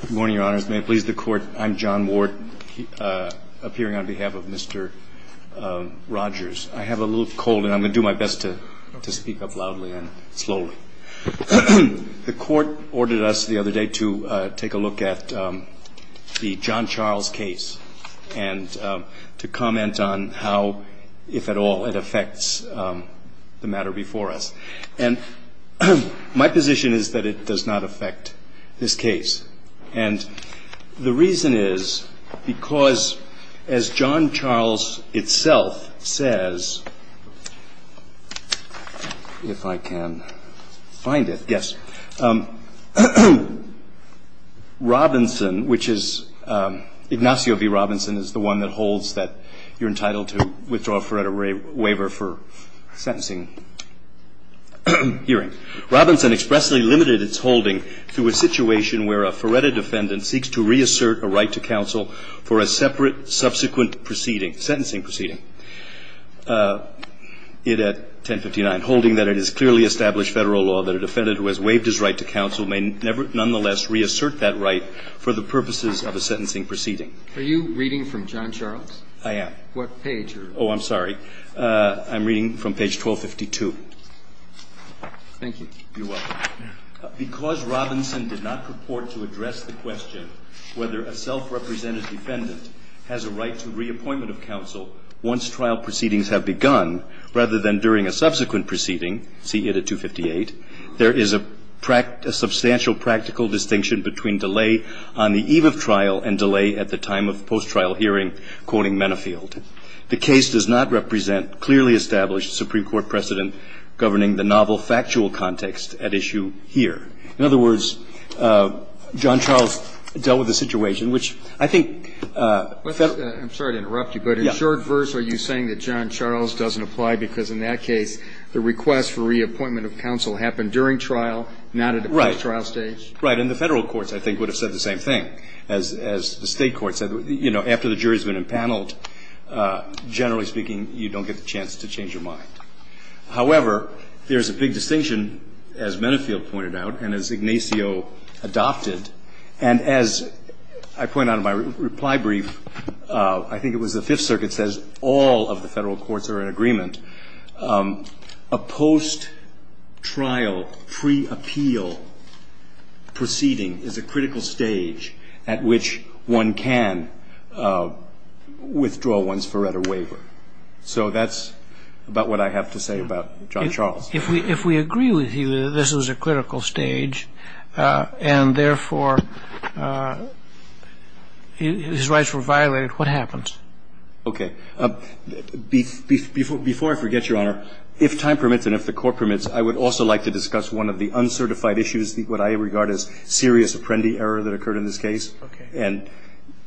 Good morning, Your Honors. May it please the Court, I'm John Ward, appearing on behalf of Mr. Rodgers. I have a little cold and I'm going to do my best to speak up loudly and slowly. The Court ordered us the other day to take a look at the John Charles case and to comment on how, if at all, it affects the matter before us. And my position is that it does not affect this case. And the reason is because, as John Charles itself says, if I can find it, yes. Robinson, which is Ignacio v. Robinson, is the one that holds that you're entitled to withdraw a Feretta waiver for sentencing hearing. Robinson expressly limited its holding to a situation where a Feretta defendant seeks to reassert a right to counsel for a separate subsequent proceeding, it at 1059, holding that it is clearly established Federal law that a defendant who has waived his right to counsel may nevertheless reassert that right for the purposes of a sentencing proceeding. Are you reading from John Charles? I am. What page? Oh, I'm sorry. I'm reading from page 1252. Thank you. You're welcome. Because Robinson did not purport to address the question whether a self-represented defendant has a right to reappointment of counsel once trial proceedings have begun, rather than during a subsequent proceeding, see it at 258, there is a substantial practical distinction between delay on the eve of trial and delay at the time of post-trial hearing. I'm sorry to interrupt you, but in short verse are you saying that John Charles doesn't apply because in that case the request for reappointment of counsel happened during trial, not at the post-trial stage? Right. And the Federal courts, I think, would have said the same thing. As the State courts said, you know, after the jury has been impaneled, generally speaking, you don't get the chance to change your mind. However, there is a big distinction, as Mennefield pointed out and as Ignacio adopted, and as I point out in my reply brief, I think it was the Fifth Circuit says all of the Federal courts are in agreement. And that's the point. I'm saying that a post-trial pre-appeal proceeding is a critical stage at which one can withdraw one's Ferretta waiver. So that's about what I have to say about John Charles. If we agree with you that this is a critical stage and, therefore, his rights were violated, what happens? Okay. Before I forget, Your Honor, if time permits and if the Court permits, I would also like to discuss one of the uncertified issues, what I regard as serious apprendi error that occurred in this case. Okay. And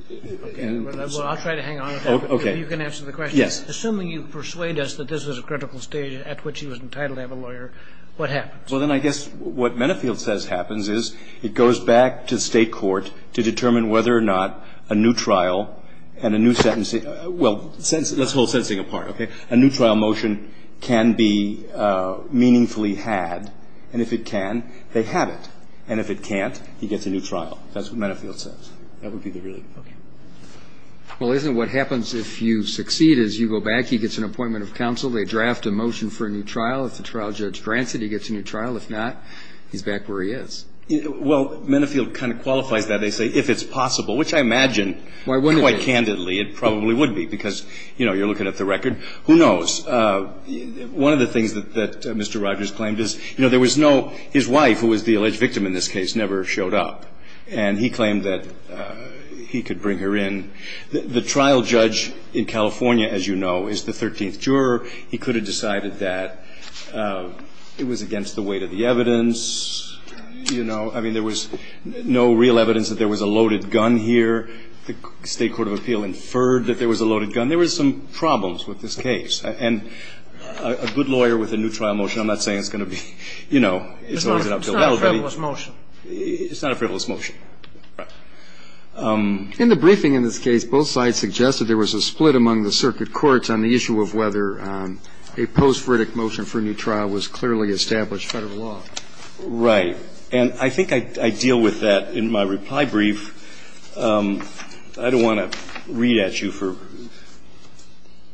so. Okay. Well, I'll try to hang on to that. Okay. You can answer the question. Yes. Assuming you persuade us that this was a critical stage at which he was entitled to have a lawyer, what happens? Well, then I guess what Mennefield says happens is it goes back to the State court to determine whether or not a new trial and a new sentencing Well, let's hold sentencing apart. Okay. A new trial motion can be meaningfully had. And if it can, they have it. And if it can't, he gets a new trial. That's what Mennefield says. That would be the ruling. Okay. Well, isn't what happens if you succeed is you go back. He gets an appointment of counsel. They draft a motion for a new trial. If the trial judge grants it, he gets a new trial. If not, he's back where he is. Well, Mennefield kind of qualifies that. They say if it's possible, which I imagine quite candidly it probably would be because, you know, you're looking at the record. Who knows? One of the things that Mr. Rogers claimed is, you know, there was no his wife, who was the alleged victim in this case, never showed up. And he claimed that he could bring her in. The trial judge in California, as you know, is the 13th juror. He could have decided that it was against the weight of the evidence, you know. I mean, there was no real evidence that there was a loaded gun here. The State Court of Appeal inferred that there was a loaded gun. There was some problems with this case. And a good lawyer with a new trial motion, I'm not saying it's going to be, you know, it's always an uphill battle. It's not a frivolous motion. It's not a frivolous motion. Right. In the briefing in this case, both sides suggested there was a split among the circuit courts on the issue of whether a post-verdict motion for a new trial was clearly established by the law. Right. And I think I deal with that in my reply brief. I don't want to read at you for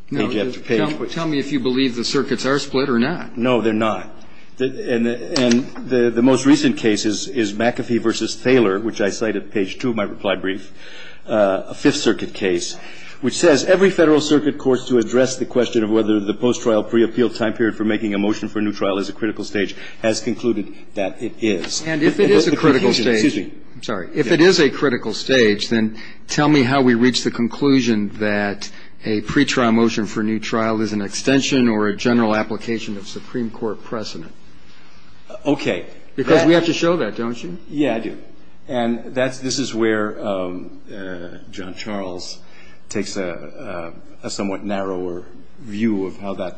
page after page. Tell me if you believe the circuits are split or not. No, they're not. And the most recent case is McAfee v. Thaler, which I cite at page 2 of my reply brief, a Fifth Circuit case, which says every Federal circuit court to address the question of whether the post-trial pre-appeal time period for making a motion for a new trial is a critical stage has concluded that it is. And if it is a critical stage, then tell me how we reach the conclusion that a pretrial motion for a new trial is an extension or a general application of Supreme Court precedent. Okay. Because we have to show that, don't you? Yeah, I do. And this is where John Charles takes a somewhat narrower view of how that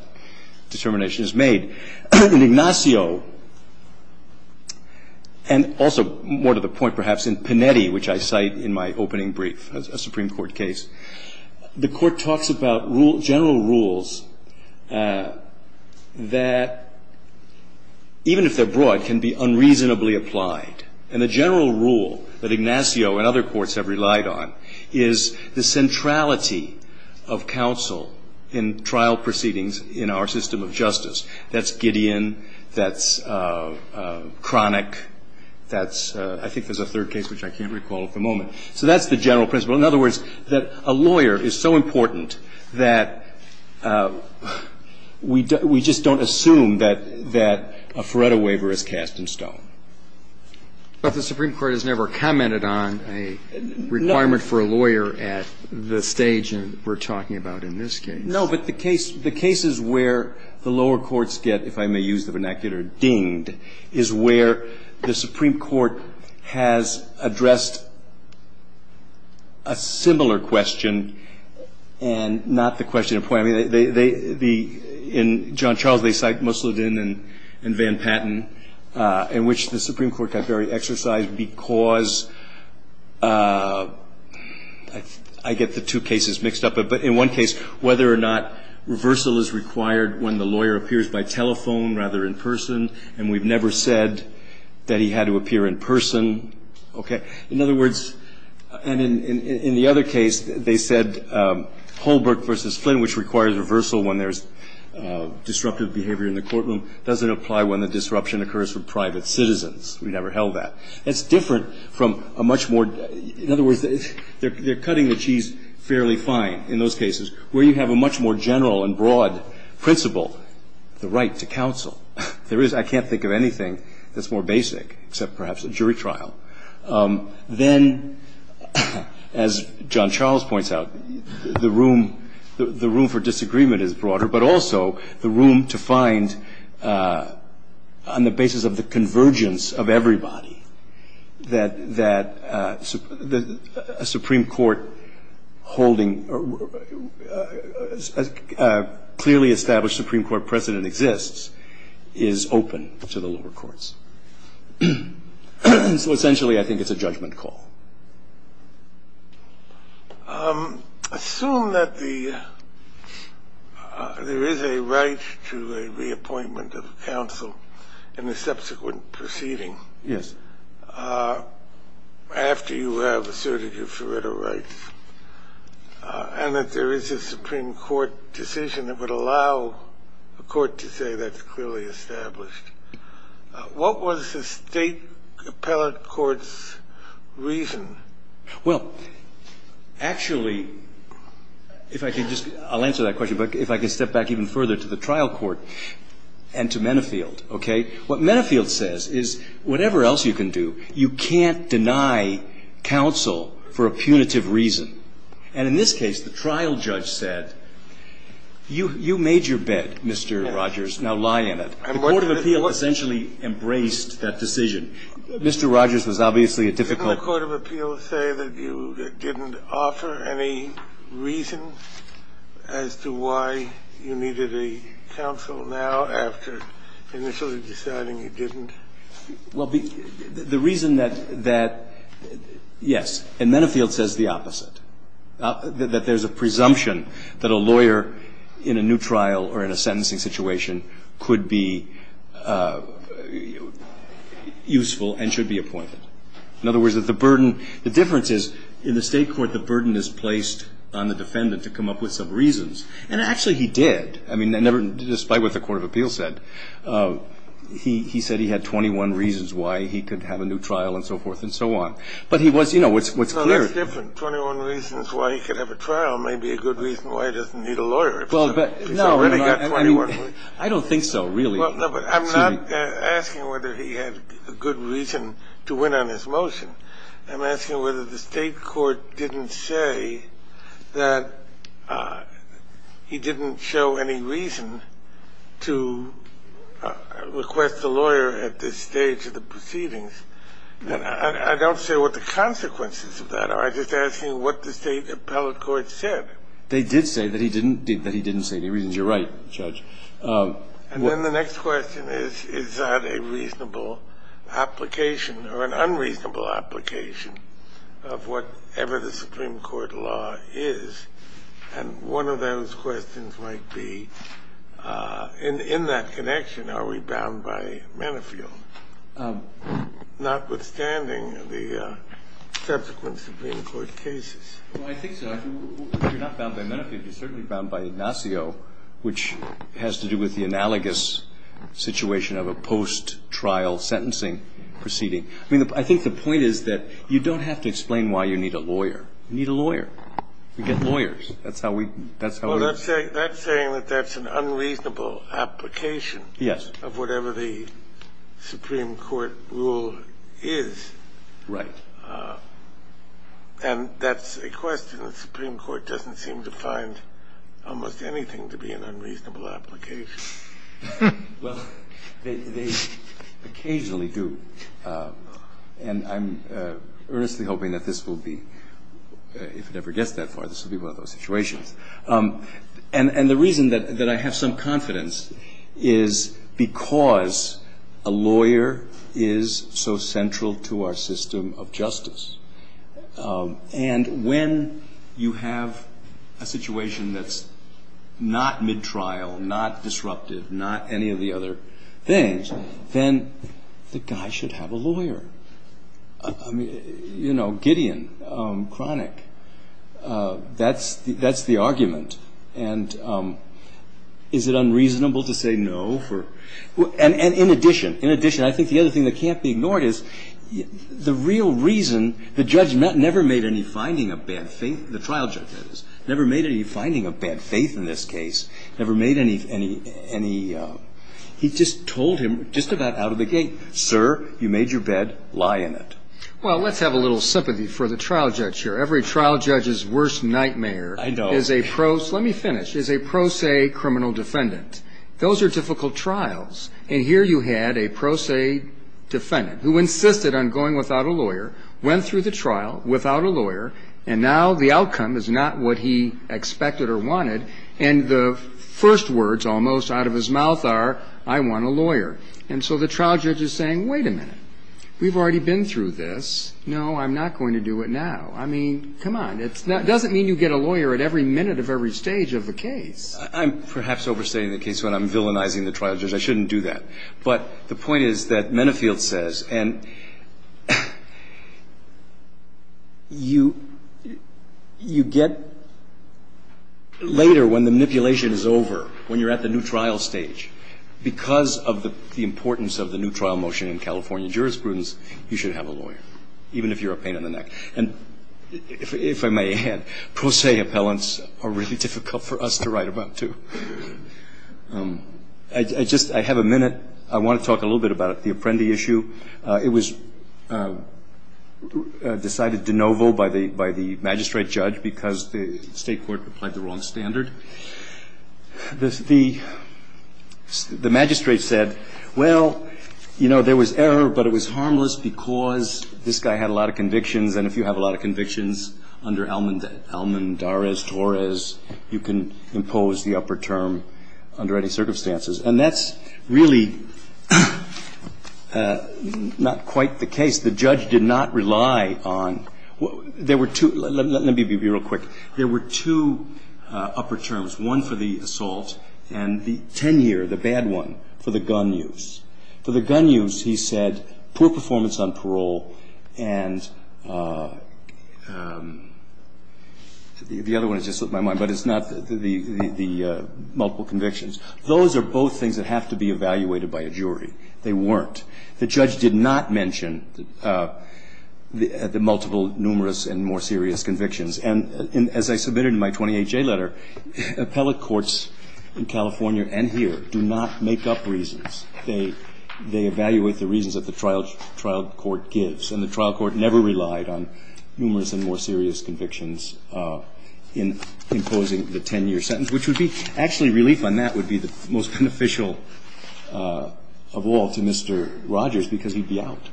determination is made. In Ignacio, and also more to the point perhaps in Panetti, which I cite in my opening brief, a Supreme Court case, the Court talks about general rules that, even if they're broad, can be unreasonably applied. And the general rule that Ignacio and other courts have relied on is the centrality of counsel in trial proceedings in our system of justice. That's Gideon. That's Cronic. I think there's a third case which I can't recall at the moment. So that's the general principle. In other words, that a lawyer is so important that we just don't assume that a Feretta waiver is cast in stone. But the Supreme Court has never commented on a requirement for a lawyer at the stage we're talking about in this case. No. But the case is where the lower courts get, if I may use the vernacular, dinged, is where the Supreme Court has addressed a similar question and not the question of point. In John Charles, they cite Musseldine and Van Patten, in which the Supreme Court got very exercised because I get the two cases mixed up. But in one case, whether or not reversal is required when the lawyer appears by telephone rather than in person, and we've never said that he had to appear in person. Okay. In other words, and in the other case, they said Holbrook v. Flynn, which requires reversal when there's disruptive behavior in the courtroom, doesn't apply when the disruption occurs from private citizens. We never held that. That's different from a much more – in other words, they're cutting the cheese fairly fine in those cases, where you have a much more general and broad principle of the right to counsel. There is – I can't think of anything that's more basic, except perhaps a jury trial. Then, as John Charles points out, the room for disagreement is broader, but also the room to find, on the basis of the convergence of everybody, that a Supreme Court precedent exists is open to the lower courts. So, essentially, I think it's a judgment call. Assume that the – there is a right to a reappointment of counsel in the subsequent proceeding. Yes. After you have asserted your forerunner rights and that there is a Supreme Court decision that would allow a court to say that's clearly established, what was the State appellate court's reason? Well, actually, if I could just – I'll answer that question, but if I could step back even further to the trial court and to Mennefield, okay? What Mennefield says is, whatever else you can do, you can't deny counsel for a punitive reason. And in this case, the trial judge said, you made your bet, Mr. Rogers. Now lie in it. The court of appeal essentially embraced that decision. Mr. Rogers was obviously a difficult – Didn't the court of appeal say that you didn't offer any reason as to why you needed a counsel now after initially deciding you didn't? Well, the reason that – yes. And Mennefield says the opposite, that there's a presumption that a lawyer in a new trial or in a sentencing situation could be useful and should be appointed. In other words, that the burden – the difference is, in the State court, the burden is placed on the defendant to come up with some reasons. And actually, he did. I mean, despite what the court of appeal said, he said he had 21 reasons why he could have a new trial and so forth and so on. But he was – you know, what's clear is – Well, that's different. 21 reasons why he could have a trial may be a good reason why he doesn't need a lawyer. Well, but – He's already got 21 reasons. I don't think so, really. Well, no, but I'm not asking whether he had a good reason to win on his motion. I'm asking whether the State court didn't say that he didn't show any reason to request a lawyer at this stage of the proceedings. And I don't say what the consequences of that are. I'm just asking what the State appellate court said. They did say that he didn't – that he didn't say any reasons. You're right, Judge. And then the next question is, is that a reasonable application or an unreasonable application of whatever the Supreme Court law is? And one of those questions might be, in that connection, are we bound by Manifield? Notwithstanding the subsequent Supreme Court cases. Well, I think so. You're not bound by Manifield. You're certainly bound by Ignacio, which has to do with the analogous situation of a post-trial sentencing proceeding. I mean, I think the point is that you don't have to explain why you need a lawyer. You need a lawyer. We get lawyers. That's how we – that's how we – Well, that's saying that that's an unreasonable application. Yes. Of whatever the Supreme Court rule is. Right. And that's a question the Supreme Court doesn't seem to find almost anything to be an unreasonable application. Well, they occasionally do. And I'm earnestly hoping that this will be – if it ever gets that far, this will be one of those situations. And the reason that I have some confidence is because a lawyer is so central to our system of justice. And when you have a situation that's not mid-trial, not disruptive, not any of the other things, then the guy should have a lawyer. I mean, you know, Gideon, Cronic, that's the argument. And is it unreasonable to say no for – and in addition, in addition, I think the other thing that can't be ignored is the real reason the judge never made any finding of bad faith – the trial judge, that is – never made any finding of bad faith in this case, never made any – he just told him just about out of the gate, sir, you made your bed, lie in it. Well, let's have a little sympathy for the trial judge here. Every trial judge's worst nightmare is a – I know. Let me finish – is a pro se criminal defendant. Those are difficult trials. And here you had a pro se defendant who insisted on going without a lawyer, went through the trial without a lawyer, and now the outcome is not what he expected or wanted, and the first words almost out of his mouth are, I want a lawyer. And so the trial judge is saying, wait a minute. We've already been through this. No, I'm not going to do it now. I mean, come on. It doesn't mean you get a lawyer at every minute of every stage of the case. I'm perhaps overstating the case when I'm villainizing the trial judge. I shouldn't do that. But the point is that Mennefield says – and you get later when the manipulation is over, when you're at the new trial stage. Because of the importance of the new trial motion in California jurisprudence, you should have a lawyer, even if you're a pain in the neck. And if I may add, pro se appellants are really difficult for us to write about, too. I just – I have a minute. I want to talk a little bit about the Apprendi issue. It was decided de novo by the magistrate judge because the State court applied the wrong standard. The magistrate said, well, you know, there was error, but it was harmless because this guy had a lot of convictions. And if you have a lot of convictions under Almondarez-Torres, you can impose the upper term under any circumstances. And that's really not quite the case. The judge did not rely on – there were two – let me be real quick. There were two upper terms, one for the assault and the 10-year, the bad one, for the gun use. For the gun use, he said poor performance on parole and – the other one has just slipped my mind, but it's not the multiple convictions. Those are both things that have to be evaluated by a jury. They weren't. The judge did not mention the multiple numerous and more serious convictions. And as I submitted in my 28-J letter, appellate courts in California and here do not make up reasons. They evaluate the reasons that the trial court gives. And the trial court never relied on numerous and more serious convictions in imposing the 10-year sentence, which would be – actually, relief on that would be the most beneficial of all to Mr. Rogers because he'd be out.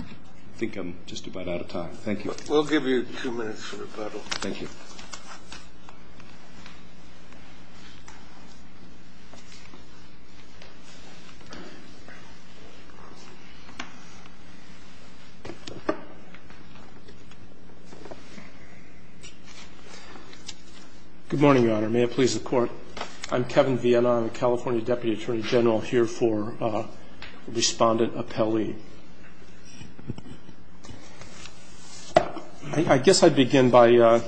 I think I'm just about out of time. Thank you. We'll give you two minutes for rebuttal. Thank you. Good morning, Your Honor. May it please the Court. I'm Kevin Vienna. I'm a California Deputy Attorney General here for Respondent Appellee. I guess I'd begin by,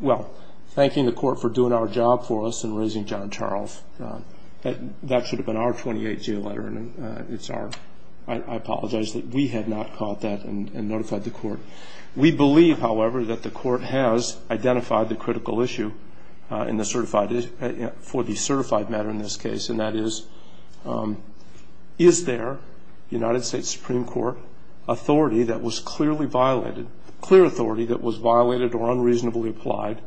well, thanking the Court for doing our job for us and raising John Charles. That should have been our 28-J letter, and it's our – I apologize that we had not called that and notified the Court. We believe, however, that the Court has identified the critical issue in the certified – for the certified matter in this case, and that is, is there United States Supreme Court authority that was clearly violated – clear authority that was violated or unreasonably applied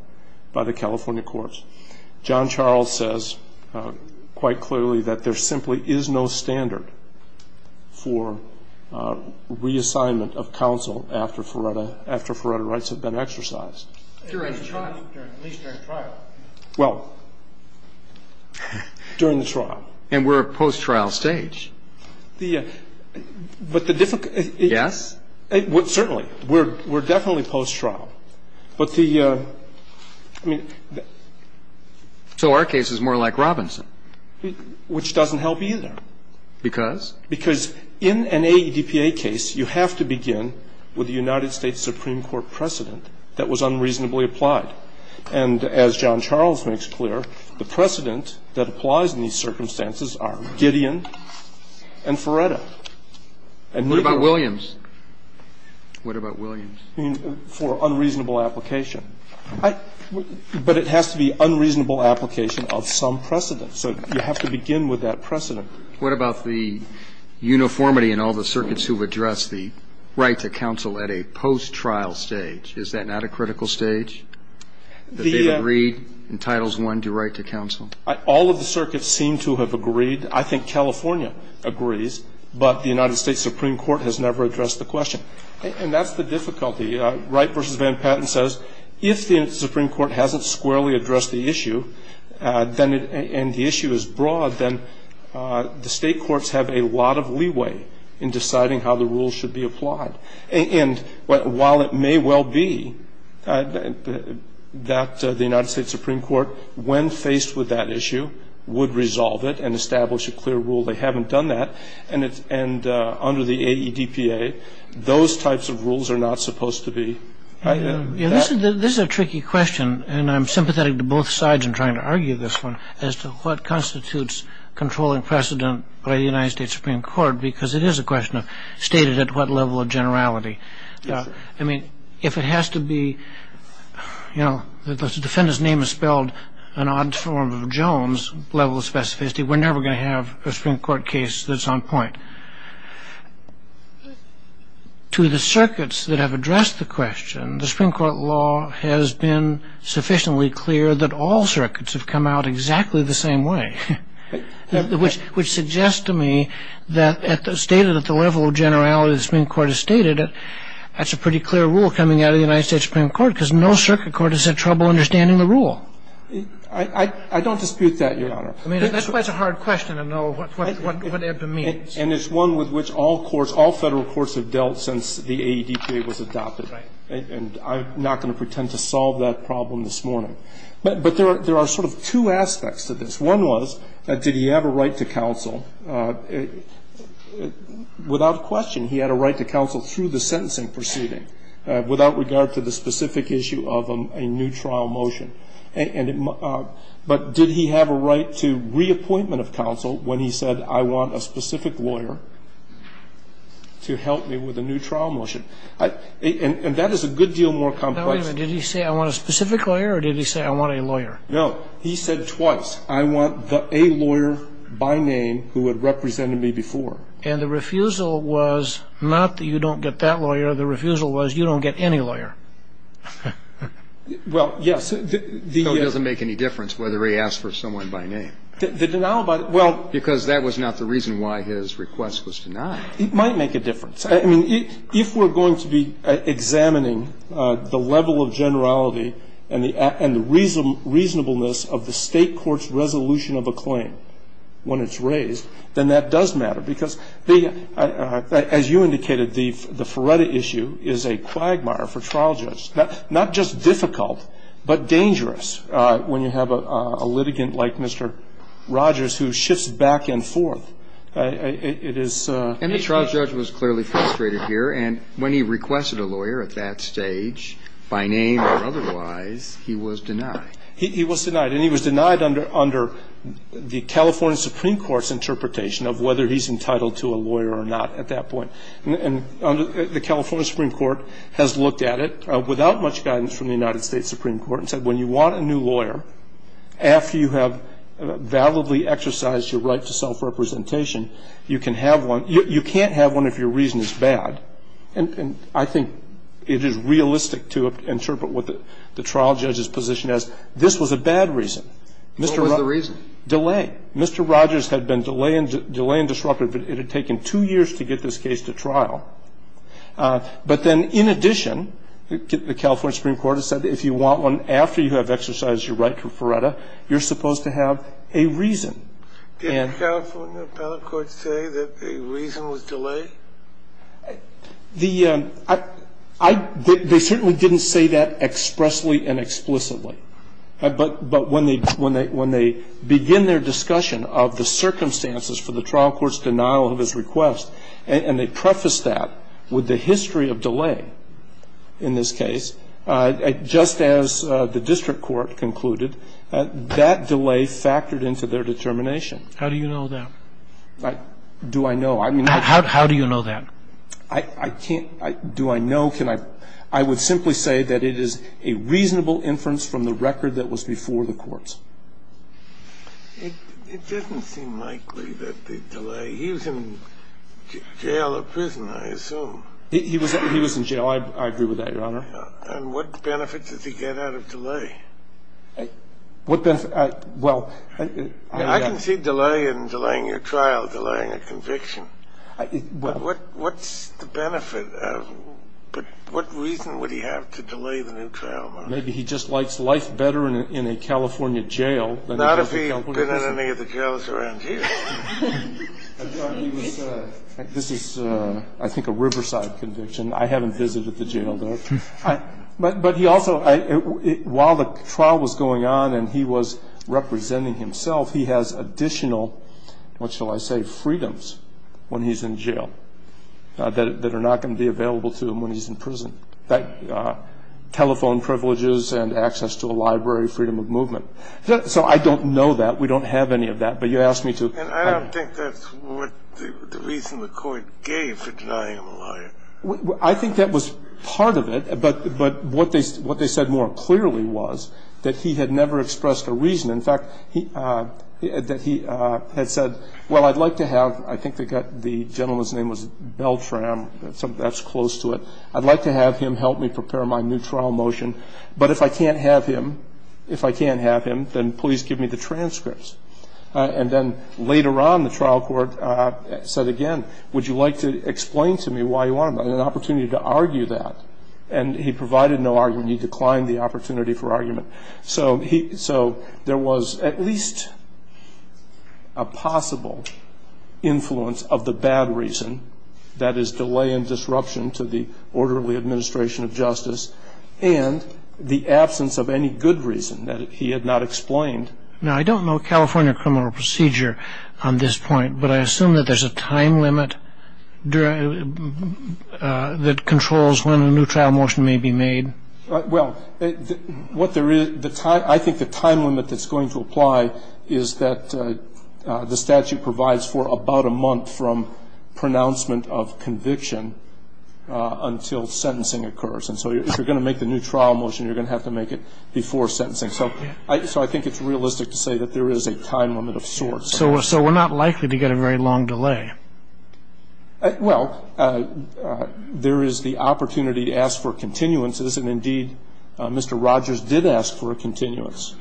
by the California courts? John Charles says quite clearly that there simply is no standard for reassignment of counsel after Faretta – after Faretta rights have been exercised. And we're at a post-trial stage. During the trial. At least during the trial. Well, during the trial. And we're at a post-trial stage. The – but the difficulty – Yes? Certainly. We're definitely post-trial. But the – I mean, the – So our case is more like Robinson. Which doesn't help either. Because? Because in an AEDPA case, you have to begin with a United States Supreme Court precedent that was unreasonably applied. And as John Charles makes clear, the precedent that applies in these circumstances are Gideon and Faretta. And neither – What about Williams? What about Williams? I mean, for unreasonable application. I – but it has to be unreasonable application of some precedent. So you have to begin with that precedent. What about the uniformity in all the circuits who've addressed the right to counsel at a post-trial stage? Is that not a critical stage that they've agreed in Titles I to write to counsel? All of the circuits seem to have agreed. I think California agrees. But the United States Supreme Court has never addressed the question. And that's the difficulty. Wright v. Van Patten says if the Supreme Court hasn't squarely addressed the issue, and the issue is broad, then the state courts have a lot of leeway in deciding how the rules should be applied. And while it may well be that the United States Supreme Court, when faced with that issue, would resolve it and establish a clear rule, they haven't done that. And under the AEDPA, those types of rules are not supposed to be – This is a tricky question. And I'm sympathetic to both sides in trying to argue this one as to what constitutes controlling precedent by the United States Supreme Court, because it is a question of stated at what level of generality. I mean, if it has to be – the defendant's name is spelled an odd form of Jones, level of specificity, we're never going to have a Supreme Court case that's on point. To the circuits that have addressed the question, the Supreme Court law has been sufficiently clear that all circuits have come out exactly the same way, which suggests to me that stated at the level of generality the Supreme Court has stated, that's a pretty clear rule coming out of the United States Supreme Court, because no circuit court has had trouble understanding the rule. I don't dispute that, Your Honor. I mean, that's why it's a hard question to know what AEDPA means. And it's one with which all courts, all Federal courts have dealt since the AEDPA was adopted. Right. And I'm not going to pretend to solve that problem this morning. But there are sort of two aspects to this. One was, did he have a right to counsel? Without question, he had a right to counsel through the sentencing proceeding, without regard to the specific issue of a new trial motion. But did he have a right to reappointment of counsel when he said, I want a specific lawyer to help me with a new trial motion? And that is a good deal more complex. Now, wait a minute. Did he say, I want a specific lawyer, or did he say, I want a lawyer? No. He said twice, I want a lawyer by name who had represented me before. And the refusal was not that you don't get that lawyer. The refusal was you don't get any lawyer. Well, yes. So it doesn't make any difference whether he asked for someone by name. The denial about it, well. Because that was not the reason why his request was denied. It might make a difference. I mean, if we're going to be examining the level of generality and the reasonableness of the State court's resolution of a claim when it's raised, then that does matter. Because, as you indicated, the Feretta issue is a quagmire for trial judges. Not just difficult, but dangerous when you have a litigant like Mr. Rogers who shifts back and forth. It is a. And the trial judge was clearly frustrated here. And when he requested a lawyer at that stage, by name or otherwise, he was denied. He was denied. And he was denied under the California Supreme Court's interpretation of whether he's entitled to a lawyer or not at that point. And the California Supreme Court has looked at it without much guidance from the United States Supreme Court and said when you want a new lawyer, after you have validly exercised your right to self-representation, you can have one. You can't have one if your reason is bad. And I think it is realistic to interpret what the trial judge's position is. This was a bad reason. Mr. Rogers. Kennedy. What was the reason? Delay. Mr. Rogers had been delaying disruptive. It had taken two years to get this case to trial. But then in addition, the California Supreme Court has said if you want one after you have exercised your right to Feretta, you're supposed to have a reason. Did the California appellate courts say that the reason was delay? They certainly didn't say that expressly and explicitly. But when they begin their discussion of the circumstances for the trial court's denial of his request and they preface that with the history of delay in this case, just as the district court concluded, that delay factored into their determination. How do you know that? Do I know? How do you know that? I can't do I know. I would simply say that it is a reasonable inference from the record that was before the courts. It doesn't seem likely that the delay. He was in jail or prison, I assume. He was in jail. I agree with that, Your Honor. And what benefit does he get out of delay? What benefit? Well. I can see delay in delaying a trial, delaying a conviction. What's the benefit? What reason would he have to delay the new trial? Maybe he just likes life better in a California jail. Not if he'd been in any of the jails around here. This is, I think, a Riverside conviction. I haven't visited the jail, though. But he also, while the trial was going on and he was representing himself, he has additional, what shall I say, freedoms when he's in jail that are not going to be available to him when he's in prison, like telephone privileges and access to a library, freedom of movement. So I don't know that. We don't have any of that. But you asked me to. And I don't think that's what the reason the court gave for denying him a lawyer. I think that was part of it. But what they said more clearly was that he had never expressed a reason. In fact, that he had said, well, I'd like to have, I think the gentleman's name was Beltram. That's close to it. I'd like to have him help me prepare my new trial motion. But if I can't have him, if I can't have him, then please give me the transcripts. And then later on, the trial court said again, would you like to explain to me why you wanted an opportunity to argue that? And he provided no argument. He declined the opportunity for argument. So there was at least a possible influence of the bad reason, that is delay and disruption to the orderly administration of justice, and the absence of any good reason that he had not explained. Now, I don't know California criminal procedure on this point. But I assume that there's a time limit that controls when a new trial motion may be made. Well, what there is, I think the time limit that's going to apply is that the statute provides for about a month from pronouncement of conviction until sentencing occurs. And so if you're going to make the new trial motion, you're going to have to make it before sentencing. So I think it's realistic to say that there is a time limit of sorts. So we're not likely to get a very long delay. Well, there is the opportunity to ask for continuances, and indeed Mr. Rogers did ask for a continuance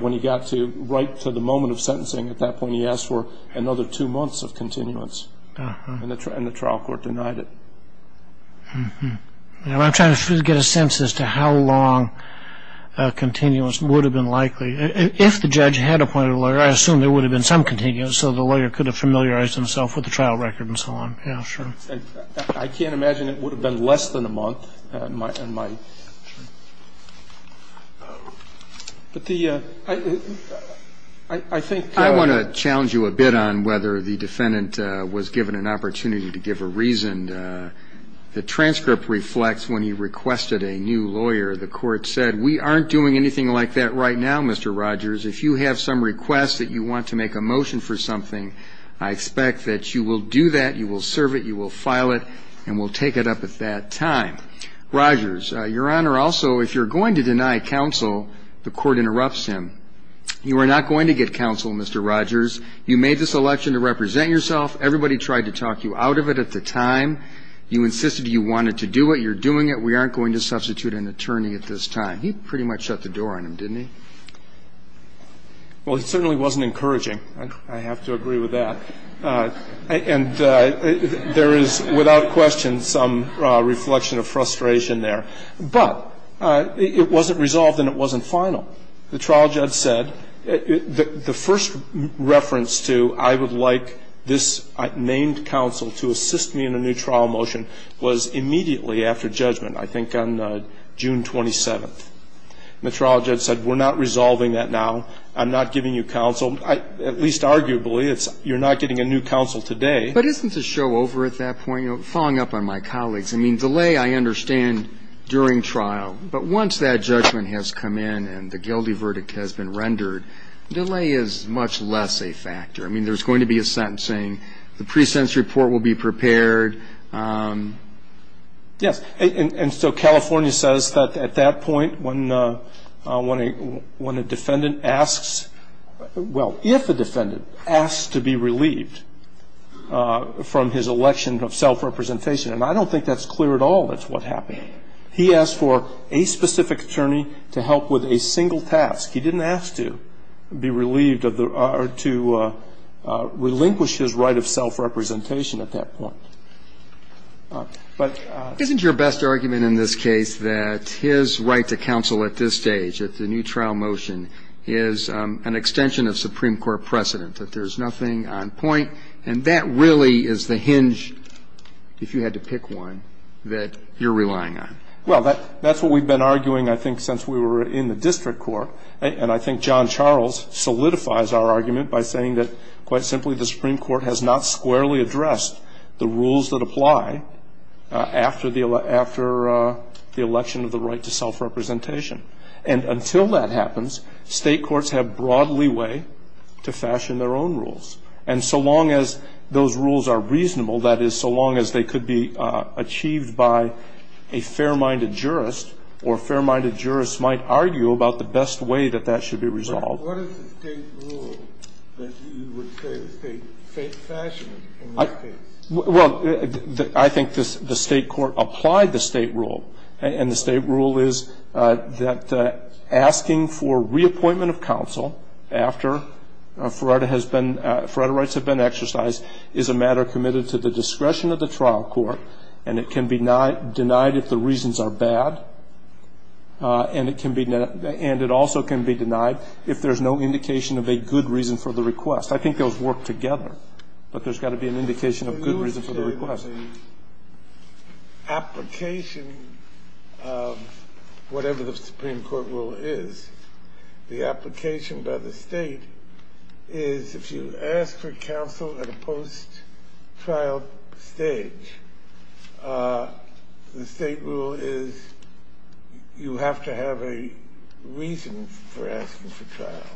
when he got right to the moment of sentencing. At that point, he asked for another two months of continuance, and the trial court denied it. I'm trying to get a sense as to how long a continuance would have been likely. If the judge had appointed a lawyer, I assume there would have been some continuance so the lawyer could have familiarized himself with the trial record and so on. Yeah, sure. I can't imagine it would have been less than a month. But the ‑‑ I think ‑‑ I want to challenge you a bit on whether the defendant was given an opportunity to give a reason and the transcript reflects when he requested a new lawyer. The court said, we aren't doing anything like that right now, Mr. Rogers. If you have some request that you want to make a motion for something, I expect that you will do that, you will serve it, you will file it, and we'll take it up at that time. Rogers, Your Honor, also, if you're going to deny counsel, the court interrupts him. You are not going to get counsel, Mr. Rogers. You made this election to represent yourself. Everybody tried to talk you out of it at the time. You insisted you wanted to do it. You're doing it. We aren't going to substitute an attorney at this time. He pretty much shut the door on him, didn't he? Well, it certainly wasn't encouraging. I have to agree with that. And there is, without question, some reflection of frustration there. But it wasn't resolved and it wasn't final. The trial judge said, the first reference to I would like this named counsel to assist me in a new trial motion was immediately after judgment, I think on June 27th. And the trial judge said, we're not resolving that now. I'm not giving you counsel, at least arguably. You're not getting a new counsel today. But isn't the show over at that point? Following up on my colleagues, I mean, delay I understand during trial. But once that judgment has come in and the guilty verdict has been rendered, delay is much less a factor. I mean, there's going to be a sentencing. The pre-sentence report will be prepared. Yes. And so California says that at that point when a defendant asks, well, if a defendant asks to be relieved from his election of self-representation, and I don't think that's clear at all, that's what happened. He asked for a specific attorney to help with a single task. He didn't ask to be relieved of the or to relinquish his right of self-representation at that point. Isn't your best argument in this case that his right to counsel at this stage, at the new trial motion, is an extension of Supreme Court precedent, that there's nothing on point? And that really is the hinge, if you had to pick one, that you're relying on. Well, that's what we've been arguing, I think, since we were in the district court. And I think John Charles solidifies our argument by saying that, quite simply, the Supreme Court has not squarely addressed the rules that apply after the election of the right to self-representation. And until that happens, state courts have broad leeway to fashion their own rules. And so long as those rules are reasonable, that is, so long as they could be achieved by a fair-minded jurist, or a fair-minded jurist might argue about the best way that that should be resolved. But what is the state rule that you would say is state fashion in this case? Well, I think the state court applied the state rule. And the state rule is that asking for reappointment of counsel after Ferrara has been exercised is a matter committed to the discretion of the trial court. And it can be denied if the reasons are bad. And it also can be denied if there's no indication of a good reason for the request. I think those work together. But there's got to be an indication of a good reason for the request. The state has an application of whatever the Supreme Court rule is. The application by the state is if you ask for counsel at a post-trial stage, the state rule is you have to have a reason for asking for trial.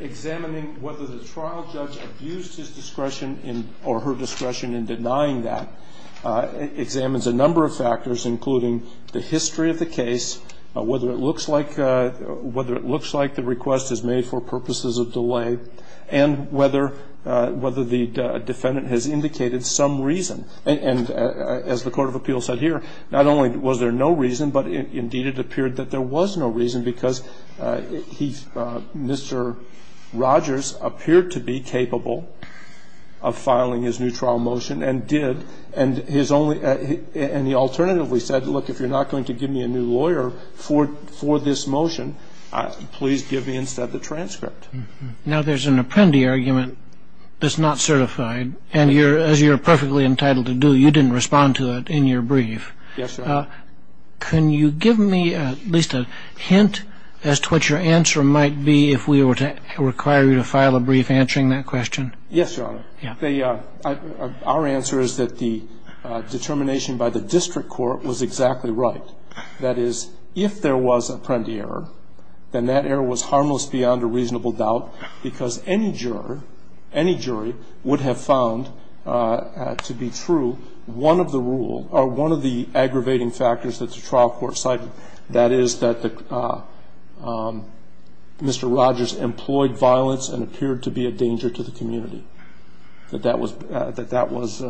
Examining whether the trial judge abused his discretion or her discretion in denying that examines a number of factors, including the history of the case, whether it looks like the request is made for purposes of delay, and whether the defendant has indicated some reason. And as the court of appeals said here, not only was there no reason, but indeed it appeared that there was no reason because he, Mr. Rogers, appeared to be capable of filing his new trial motion and did. And his only, and he alternatively said, look, if you're not going to give me a new lawyer for this motion, please give me instead the transcript. Now, there's an appendi argument that's not certified. And as you're perfectly entitled to do, you didn't respond to it in your brief. Yes, Your Honor. Can you give me at least a hint as to what your answer might be if we were to require you to file a brief answering that question? Yes, Your Honor. Our answer is that the determination by the district court was exactly right. That is, if there was appendi error, then that error was harmless beyond a reasonable doubt because any juror, any jury would have found to be true one of the rule, or one of the aggravating factors that the trial court cited. That is, that Mr. Rogers employed violence and appeared to be a danger to the community. That that was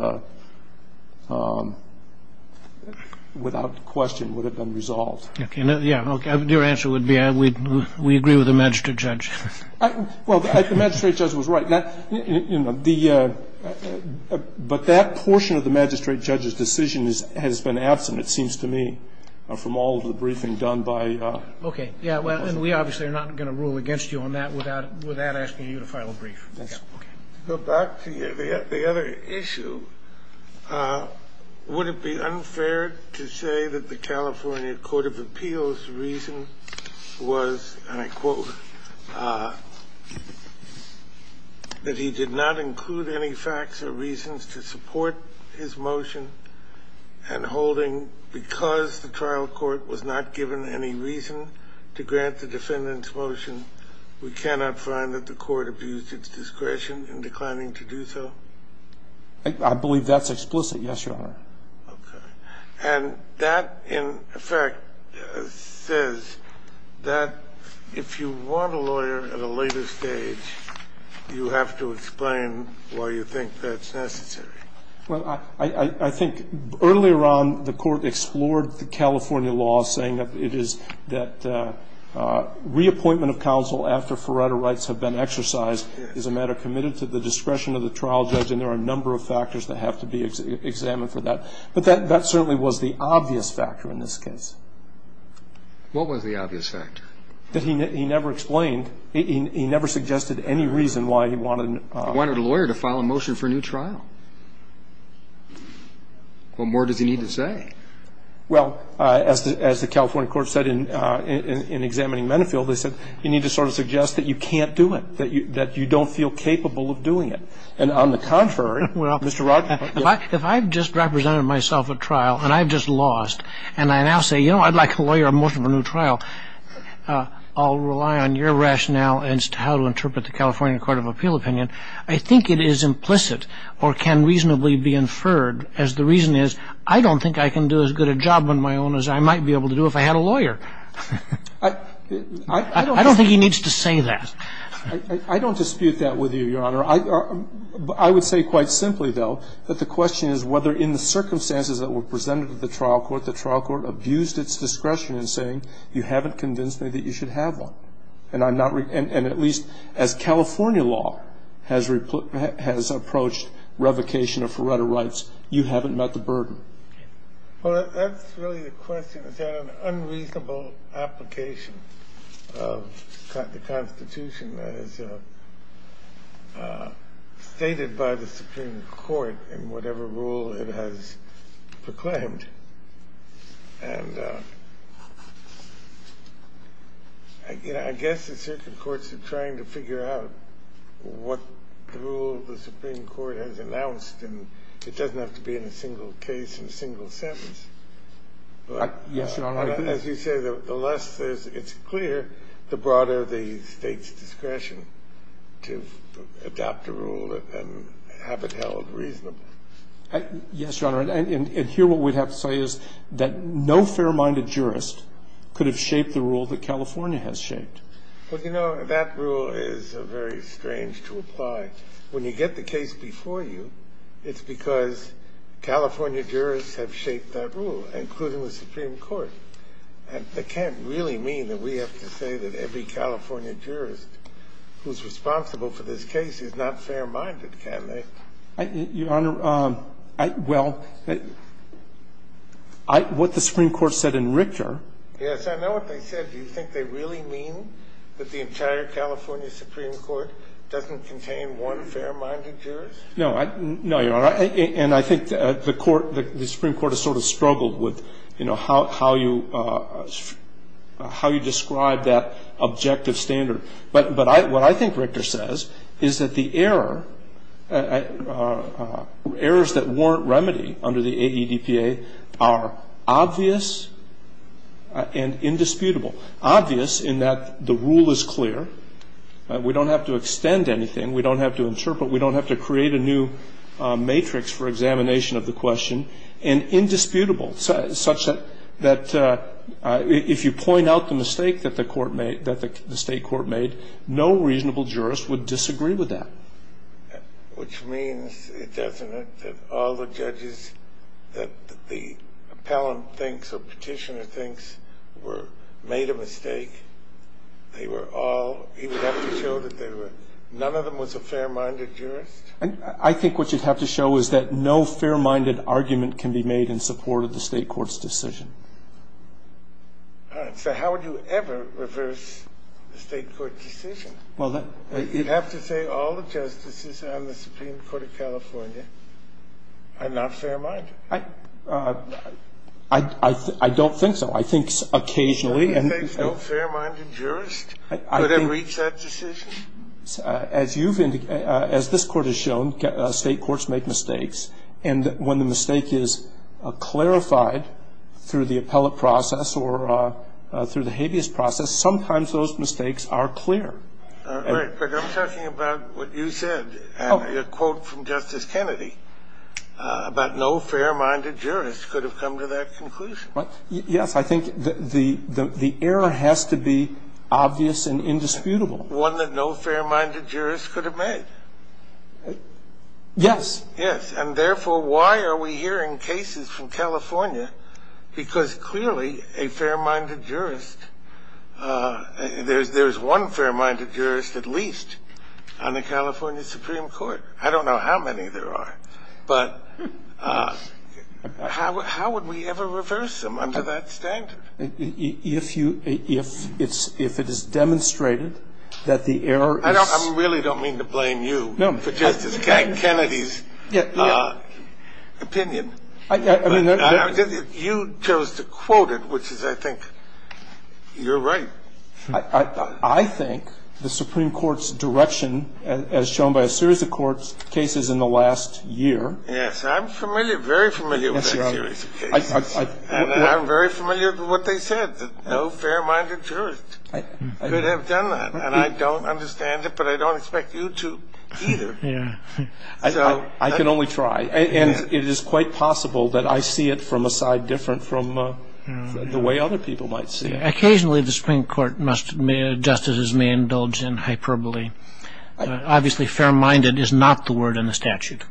without question would have been resolved. Okay. Your answer would be we agree with the magistrate judge. Well, the magistrate judge was right. But that portion of the magistrate judge's decision has been absent, it seems to me, from all of the briefing done by the magistrate judge. Okay. Yeah, well, and we obviously are not going to rule against you on that without asking you to file a brief. Okay. Go back to the other issue. Would it be unfair to say that the California Court of Appeals' reason was, and I quote, that he did not include any facts or reasons to support his motion and holding because the trial court was not given any reason to grant the defendant's motion, we cannot find that the court abused its discretion in declining to do so? I believe that's explicit, yes, Your Honor. Okay. And that, in effect, says that if you want a lawyer at a later stage, you have to explain why you think that's necessary. Well, I think earlier on the court explored the California law saying that it is that reappointment of counsel after forerunner rights have been exercised is a matter committed to the discretion of the trial judge, and there are a number of factors that have to be examined for that. But that certainly was the obvious factor in this case. What was the obvious factor? That he never explained, he never suggested any reason why he wanted to. He wanted a lawyer to file a motion for a new trial. What more does he need to say? Well, as the California court said in examining Menifee, they said, you need to sort of suggest that you can't do it, that you don't feel capable of doing it. And on the contrary, Mr. Rothfeld. If I've just represented myself at trial and I've just lost and I now say, you know, I'd like a lawyer, a motion for a new trial, I'll rely on your rationale as to how to interpret the California court of appeal opinion, I think it is implicit or can reasonably be inferred as the reason is, I don't think I can do as good a job on my own as I might be able to do if I had a lawyer. I don't think he needs to say that. I don't dispute that with you, Your Honor. I would say quite simply, though, that the question is whether in the circumstances that were presented to the trial court, the trial court abused its discretion in saying you haven't convinced me that you should have one. And at least as California law has approached revocation of Faretta rights, you haven't met the burden. Well, that's really the question. Is that an unreasonable application of the Constitution as stated by the Supreme Court in whatever rule it has proclaimed? And, you know, I guess the circuit courts are trying to figure out what rule the Supreme Court has announced, and it doesn't have to be in a single case and a single sentence. Yes, Your Honor. As you say, the less it's clear, the broader the State's discretion to adapt a rule and have it held reasonable. Yes, Your Honor. And here what we'd have to say is that no fair-minded jurist could have shaped the rule that California has shaped. Well, you know, that rule is very strange to apply. When you get the case before you, it's because California jurists have shaped that rule, including the Supreme Court. And that can't really mean that we have to say that every California jurist who's responsible for this case is not fair-minded, can they? Your Honor, well, what the Supreme Court said in Richter ---- Yes, I know what they said. Do you think they really mean that the entire California Supreme Court doesn't contain one fair-minded jurist? No. No, Your Honor. And I think the Supreme Court has sort of struggled with, you know, how you describe that objective standard. But what I think Richter says is that the error, errors that warrant remedy under the AEDPA are obvious and indisputable, obvious in that the rule is clear. We don't have to extend anything. We don't have to interpret. We don't have to create a new matrix for examination of the question. And indisputable, such that if you point out the mistake that the state court made, no reasonable jurist would disagree with that. Which means, it doesn't it, that all the judges that the appellant thinks or petitioner thinks made a mistake, they were all, he would have to show that none of them was a fair-minded jurist? I think what you'd have to show is that no fair-minded argument can be made in support of the state court's decision. All right. So how would you ever reverse the state court decision? You'd have to say all the justices on the Supreme Court of California are not fair-minded. I don't think so. I think occasionally. No fair-minded jurist could have reached that decision? As you've indicated, as this Court has shown, state courts make mistakes. And when the mistake is clarified through the appellate process or through the habeas process, sometimes those mistakes are clear. All right. But I'm talking about what you said and your quote from Justice Kennedy about no fair-minded jurist could have come to that conclusion. Yes, I think the error has to be obvious and indisputable. One that no fair-minded jurist could have made? Yes. Yes. And therefore, why are we hearing cases from California? Because clearly a fair-minded jurist, there's one fair-minded jurist at least on the California Supreme Court. I don't know how many there are. But how would we ever reverse them under that standard? If you ‑‑ if it is demonstrated that the error is ‑‑ I really don't mean to blame you for Justice Kennedy's opinion. You chose to quote it, which is, I think, you're right. I think the Supreme Court's direction, as shown by a series of court cases in the last year ‑‑ Yes. I'm familiar, very familiar with that series of cases. And I'm very familiar with what they said, that no fair-minded jurist could have done that. And I don't understand it, but I don't expect you to either. Yeah. So ‑‑ I can only try. And it is quite possible that I see it from a side different from the way other people might see it. Occasionally the Supreme Court justices may indulge in hyperbole. Obviously fair-minded is not the word in the statute.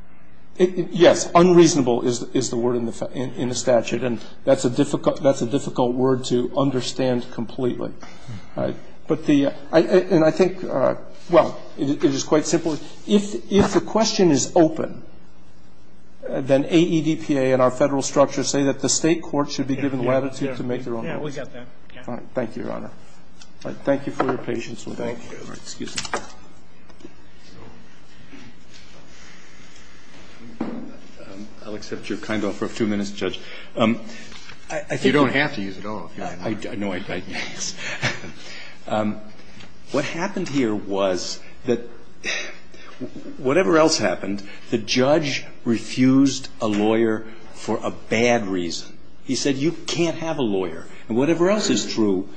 Yes. Unreasonable is the word in the statute. And that's a difficult word to understand completely. But the ‑‑ and I think, well, it is quite simple. If the question is open, then AEDPA and our federal structure say that the state court should be given latitude to make their own rules. Yes. We got that. Thank you, Your Honor. Thank you for your patience with that. Excuse me. I'll accept your kind offer of two minutes, Judge. I think ‑‑ You don't have to use it all. I know. Yes. What happened here was that whatever else happened, the judge refused a lawyer for a bad reason. He said you can't have a lawyer. And whatever else is true,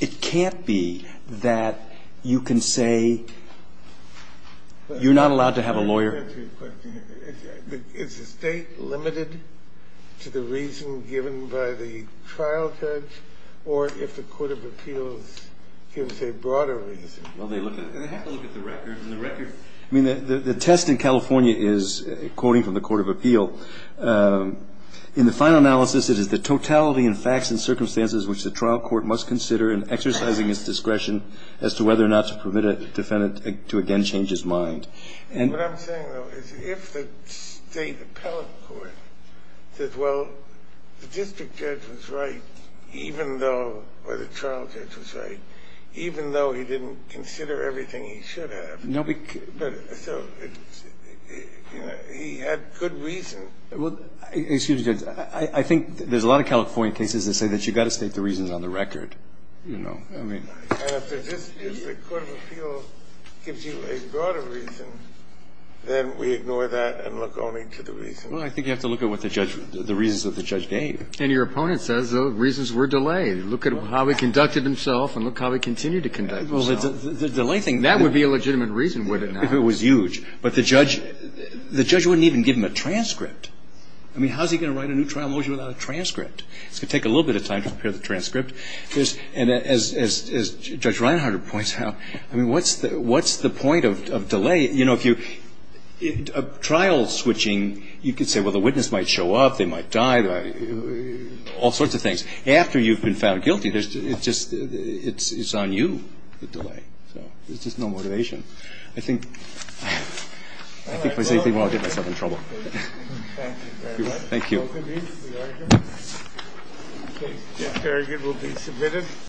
it can't be that you can say you're not allowed to have a lawyer. Is the state limited to the reason given by the trial judge or if the court of appeals gives a broader reason? They have to look at the record. I mean, the test in California is, quoting from the court of appeal, in the final analysis it is the totality and facts and circumstances which the trial court must consider in exercising its discretion as to whether or not to permit a defendant to again change his mind. And what I'm saying, though, is if the state appellate court says, well, the district judge was right, or the trial judge was right, even though he didn't consider everything he should have, he had good reason. Well, excuse me, Judge. I think there's a lot of California cases that say that you've got to state the reasons on the record. And if the district court of appeal gives you a broader reason, then we ignore that and look only to the reasons. Well, I think you have to look at the reasons that the judge gave. And your opponent says the reasons were delayed. Look at how he conducted himself and look how he continued to conduct himself. Well, the delay thing, that would be a legitimate reason, wouldn't it, now? It was huge. But the judge wouldn't even give him a transcript. I mean, how is he going to write a new trial motion without a transcript? It's going to take a little bit of time to prepare the transcript. And as Judge Reinhardt points out, I mean, what's the point of delay? You know, if you're trial switching, you could say, well, the witness might show up, they might die. All sorts of things. After you've been found guilty, it's on you, the delay. So there's just no motivation. I think there's anything where I'll get myself in trouble. Thank you very much. Thank you. We're all convened. We are here. Okay. Very good. We'll be submitted.